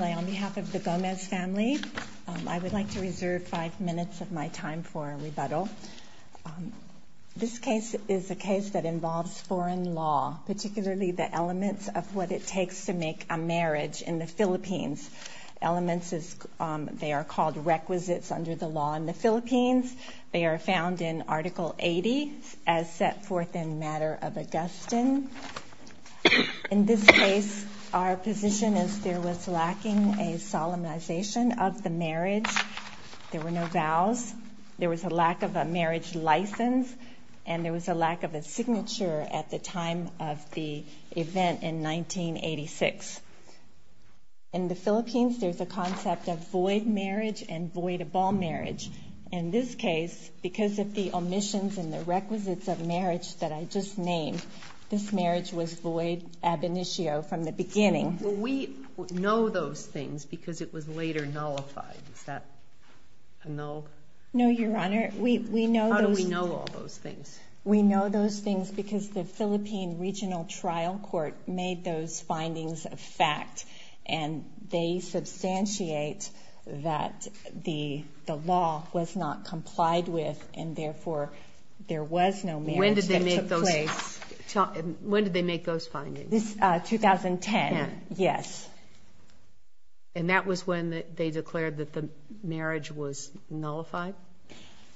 on behalf of the Gomez family, I would like to reserve five minutes of my time for a rebuttal. This case is a case that involves foreign law, particularly the elements of what it takes to make a marriage in the Philippines. Elements, they are called requisites under the law in the Philippines. They are found in Article 80 as set forth in Matter of Augustine. In this case, our position is there was lacking a solemnization of the marriage. There were no vows. There was a lack of a marriage license, and there was a lack of a signature at the time of the event in 1986. In the Philippines, there's a concept of void marriage and voidable marriage. In this case, because of the omissions and the requisites of marriage that I just named, this marriage was void ab initio from the beginning. Well, we know those things because it was later nullified. Is that a null? No, Your Honor. We know those things. How do we know all those things? We know those things because the Philippine Regional Trial Court made those findings a law was not complied with, and therefore, there was no marriage that took place. When did they make those findings? 2010, yes. And that was when they declared that the marriage was nullified?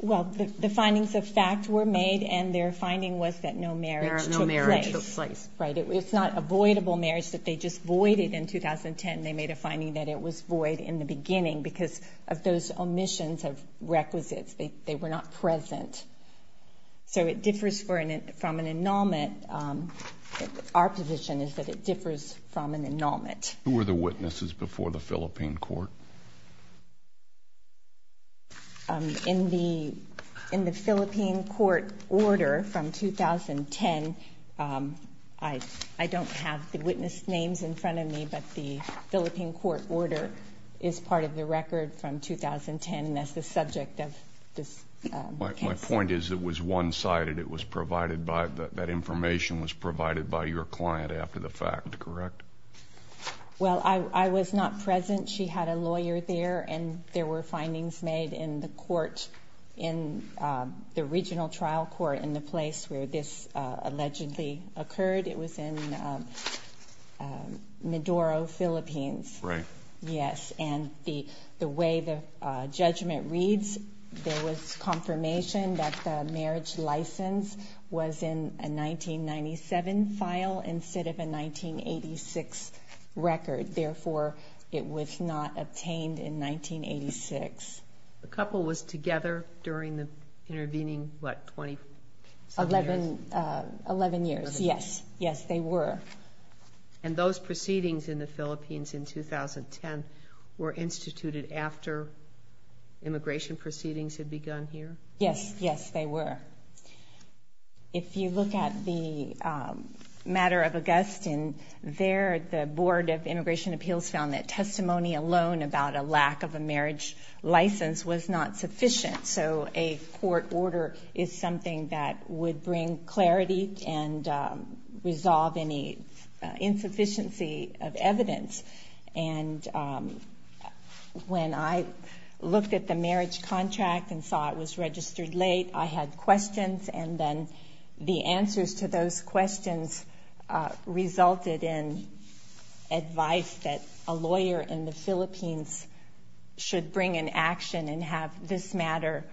Well, the findings of fact were made, and their finding was that no marriage took place. No marriage took place. Right. It's not a voidable marriage that they just voided in 2010. They made a finding that it was void in the beginning because of those omissions of requisites. They were not present. So it differs from an annulment. Our position is that it differs from an annulment. Who were the witnesses before the Philippine Court? In the Philippine Court order from 2010, I don't have the witness names in front of me, but the Philippine Court order is part of the record from 2010, and that's the subject of this case. My point is it was one-sided. It was provided by, that information was provided by your client after the fact, correct? Well, I was not present. She had a lawyer there, and there were findings made in the court, in the regional trial court in the place where this allegedly occurred. It was in Maduro, Philippines. Right. Yes, and the way the judgment reads, there was confirmation that the marriage license was in a 1997 file instead of a 1986 record. Therefore, it was not obtained in 1986. The couple was together during the intervening, what, 27 years? Eleven years, yes. Yes, they were. And those proceedings in the Philippines in 2010 were instituted after immigration proceedings had begun here? Yes, yes, they were. If you look at the matter of Augustine, there the Board of Immigration Appeals found that testimony alone about a lack of a marriage license was not sufficient. So a court order is something that would bring clarity and resolve any insufficiency of evidence. And when I looked at the marriage contract and saw it was registered late, I had questions, and then the answers to those questions resulted in advice that a lawyer in the Philippines should bring an action and have this matter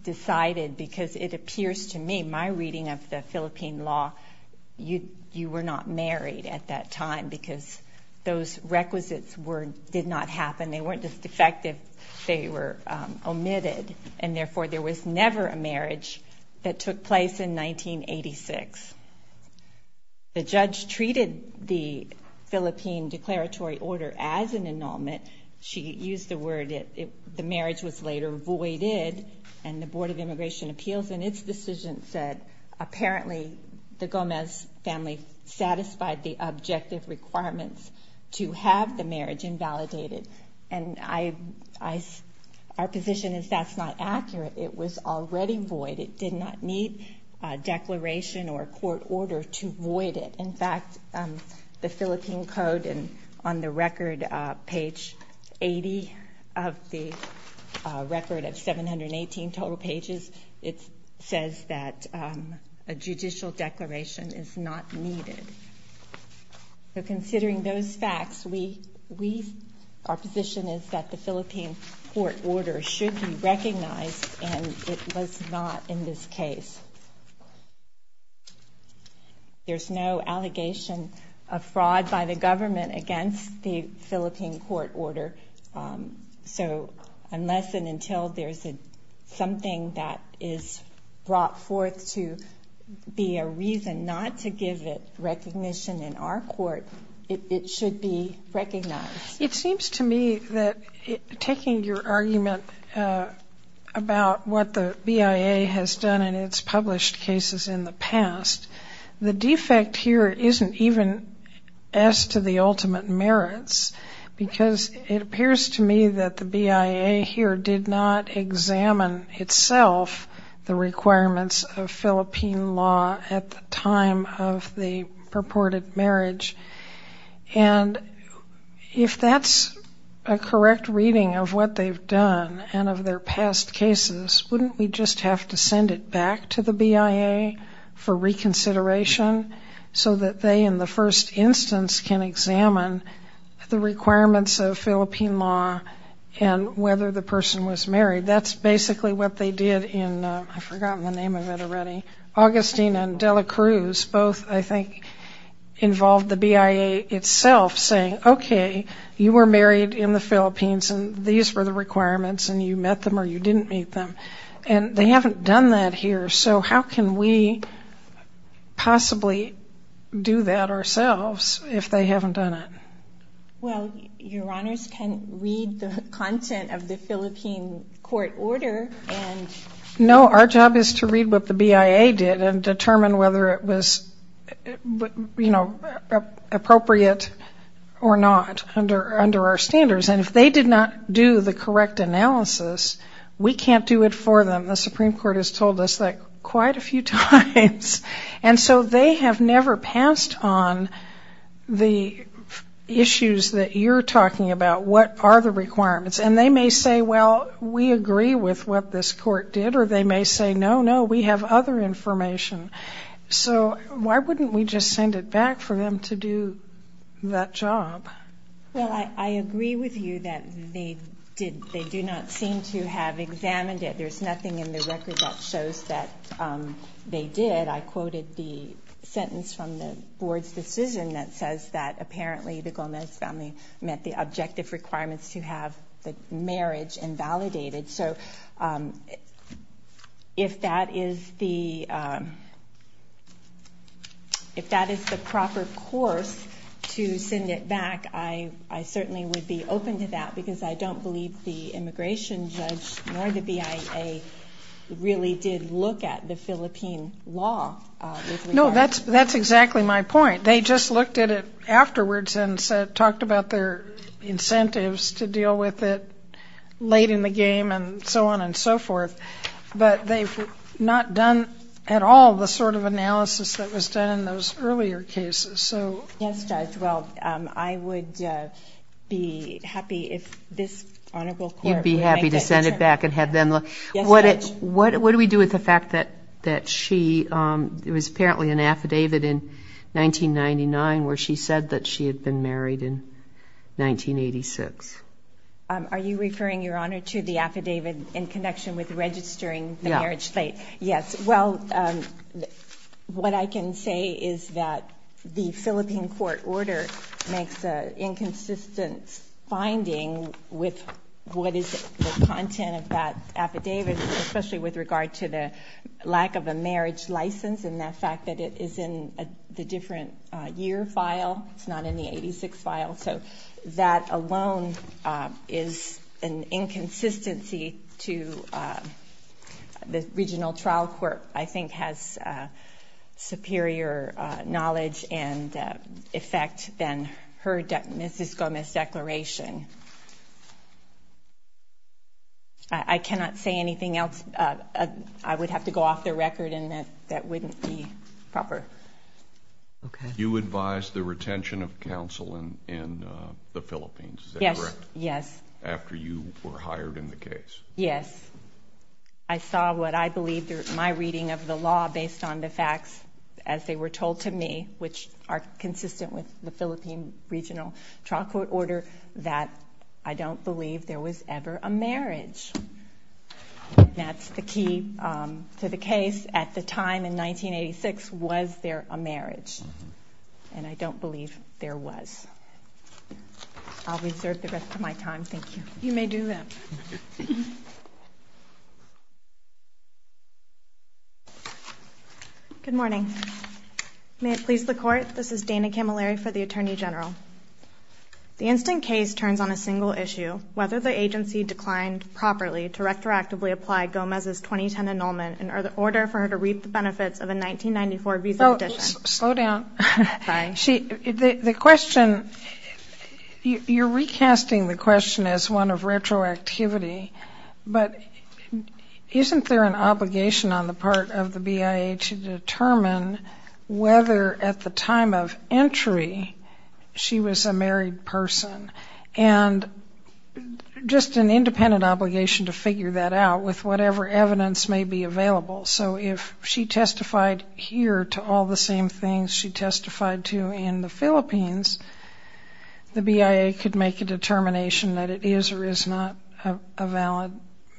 decided because it appears to me, my reading of the Philippine law, you were not married at that time because those requisites did not happen. They weren't as defective. They were omitted. And therefore, there was never a marriage that took place in 1986. The judge treated the Philippine declaratory order as an annulment. She used the word, the marriage was later voided, and the Board of Immigration Appeals in its decision said, apparently, the Gomez family satisfied the objective requirements to have the marriage invalidated. And our position is that's not accurate. It was already void. It did not need a declaration or a court order to void it. In fact, the Philippine Code, on the record, page 80 of the record of 718 total pages, it says that a judicial declaration is not needed. So considering those facts, our position is that the Philippine court order should be recognized, and it was not in this case. There's no allegation of fraud by the government against the Philippine court order. So unless and until there's something that is brought forth to be a reason not to give it recognition in our court, it should be recognized. It seems to me that taking your argument about what the BIA has done in its published cases in the past, the defect here isn't even as to the ultimate merits, because it appears to me that the BIA here did not examine itself the requirements of Philippine law at the time of the purported marriage. And if that's a correct reading of what they've done and of their past cases, wouldn't we just have to send it back to the BIA for reconsideration so that they, in the first instance, can examine the requirements of Philippine law and whether the person was married? That's basically what they did in, I've forgotten the name of it already. Augustine and Dela Cruz both, I think, involved the BIA itself saying, okay, you were married in the Philippines, and these were the requirements, and you met them or you didn't meet them. And they haven't done that here, so how can we possibly do that ourselves if they haven't done it? Well, Your Honors can read the content of the Philippine court order. No, our job is to read what the BIA did and determine whether it was, you know, appropriate or not under our standards. And if they did not do the correct analysis, we can't do it for them. The Supreme Court has told us that quite a few times. And so they have never passed on the issues that you're talking about, what are the requirements. And they may say, well, we agree with what this court did, or they may say, no, no, we have other information. So why wouldn't we just send it back for them to do that job? Well, I agree with you that they do not seem to have examined it. There's nothing in the record that shows that they did. I quoted the sentence from the board's decision that says that apparently the Gomez family met the objective requirements to have the marriage invalidated. So if that is the proper course to send it back, I certainly would be open to that, because I don't believe the immigration judge nor the BIA really did look at the Philippine law. No, that's exactly my point. They just looked at it afterwards and talked about their incentives to deal with it late in the game and so on and so forth. But they've not done at all the sort of analysis that was done in those earlier cases. Yes, Judge, well, I would be happy if this honorable court would make that determination. You'd be happy to send it back and have them look. Yes, Judge. What do we do with the fact that she was apparently in an affidavit in 1999 where she said that she had been married in 1986? Are you referring, Your Honor, to the affidavit in connection with registering the marriage slate? Yes. Well, what I can say is that the Philippine court order makes an inconsistent finding with what is the content of that affidavit, especially with regard to the lack of a marriage license and the fact that it is in the different year file. It's not in the 1986 file. So that alone is an inconsistency to the regional trial court, I think has superior knowledge and effect than her Mrs. Gomez declaration. I cannot say anything else. I would have to go off the record and that wouldn't be proper. Okay. You advised the retention of counsel in the Philippines, is that correct? Yes, yes. After you were hired in the case? Yes. I saw what I believe my reading of the law based on the facts as they were told to me, which are consistent with the Philippine regional trial court order, that I don't believe there was ever a marriage. That's the key to the case. At the time in 1986, was there a marriage? And I don't believe there was. I'll reserve the rest of my time. Thank you. You may do that. Good morning. May it please the court, this is Dana Camilleri for the Attorney General. The instant case turns on a single issue, whether the agency declined properly to retroactively apply Gomez's 2010 annulment in order for her to reap the benefits of a 1994 visa petition. Slow down. Sorry. The question, you're recasting the question as one of retroactivity, but isn't there an obligation on the part of the BIA to determine whether at the time of entry she was a married person? And just an independent obligation to figure that out with whatever evidence may be available. So if she testified here to all the same things she testified to in the Philippines, the BIA could make a determination that it is or is not a valid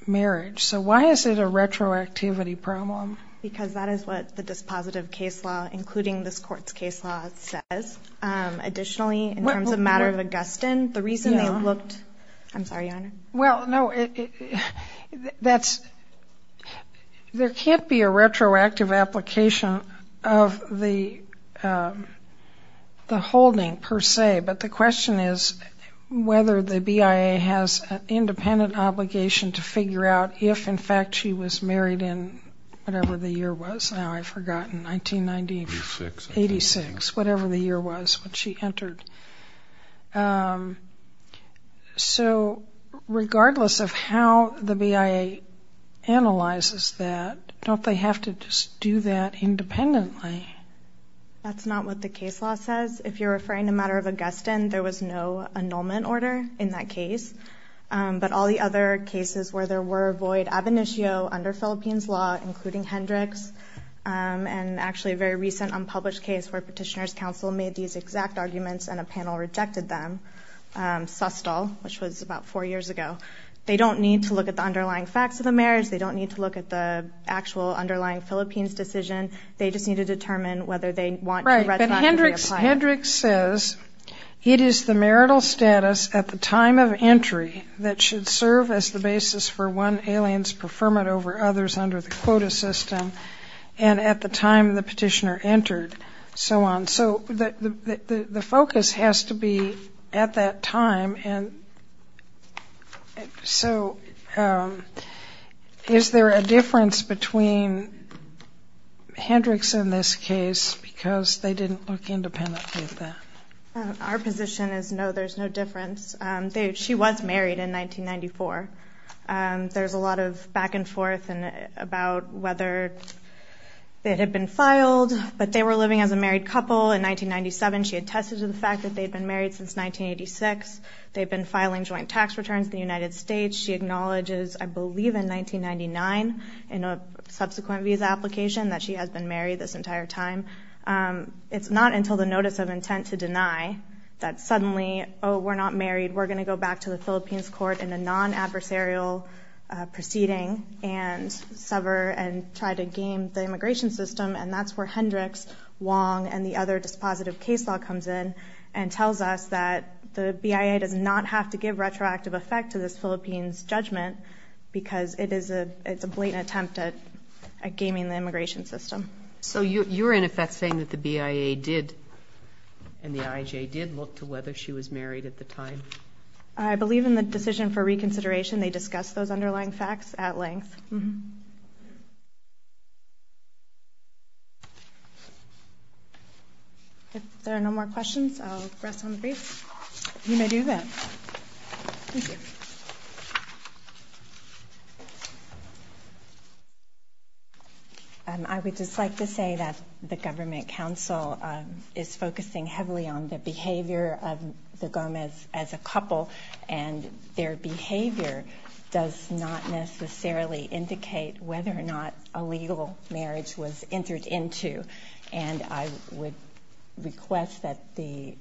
marriage. So why is it a retroactivity problem? Because that is what the dispositive case law, including this court's case law, says. Additionally, in terms of the matter of Augustine, the reason they looked at it, I'm sorry, Your Honor. Well, no, that's, there can't be a retroactive application of the holding per se, but the question is whether the BIA has an independent obligation to figure out if, in fact, she was married in whatever the year was, now I've forgotten, 1986, whatever the year was when she entered. So regardless of how the BIA analyzes that, don't they have to just do that independently? That's not what the case law says. If you're referring to the matter of Augustine, there was no annulment order in that case, but all the other cases where there were void ab initio under Philippines law, including Hendrix, and actually a very recent unpublished case where Petitioner's Counsel made these exact arguments and a panel rejected them, Sustol, which was about four years ago. They don't need to look at the underlying facts of the marriage. They don't need to look at the actual underlying Philippines decision. They just need to determine whether they want a retroactive reappliance. Right, but Hendrix says it is the marital status at the time of entry that should serve as the basis for one alien's preferment over others under the quota system and at the time the petitioner entered, so on. So the focus has to be at that time, and so is there a difference between Hendrix and this case because they didn't look independently at that? Our position is no, there's no difference. She was married in 1994. There's a lot of back and forth about whether they had been filed, but they were living as a married couple in 1997. She attested to the fact that they had been married since 1986. They had been filing joint tax returns to the United States. She acknowledges, I believe in 1999, in a subsequent visa application, that she has been married this entire time. It's not until the notice of intent to deny that suddenly, oh, we're not married, we're going to go back to the Philippines court in a non-adversarial proceeding and sever and try to game the immigration system, and that's where Hendrix, Wong, and the other dispositive case law comes in and tells us that the BIA does not have to give retroactive effect to this Philippines judgment because it's a blatant attempt at gaming the immigration system. So you're, in effect, saying that the BIA did, and the IJ did, look to whether she was married at the time? I believe in the decision for reconsideration they discussed those underlying facts at length. If there are no more questions, I'll rest on the briefs. I would just like to say that the government council is focusing heavily on the behavior of the Gomez as a couple, and their behavior does not necessarily indicate whether or not a legal marriage was entered into, and I would request that the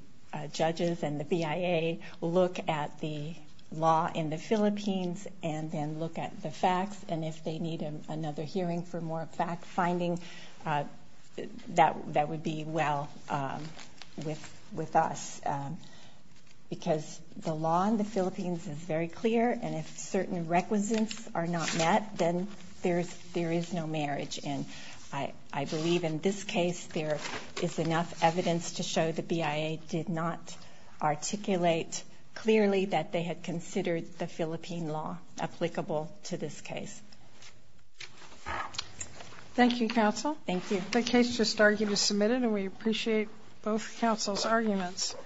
judges and the BIA look at the law in the Philippines and then look at the facts, and if they need another hearing for more fact-finding, that would be well with us. Because the law in the Philippines is very clear, and if certain requisites are not met, then there is no marriage. And I believe in this case there is enough evidence to show the BIA did not articulate clearly that they had considered the Philippine law applicable to this case. Thank you, counsel.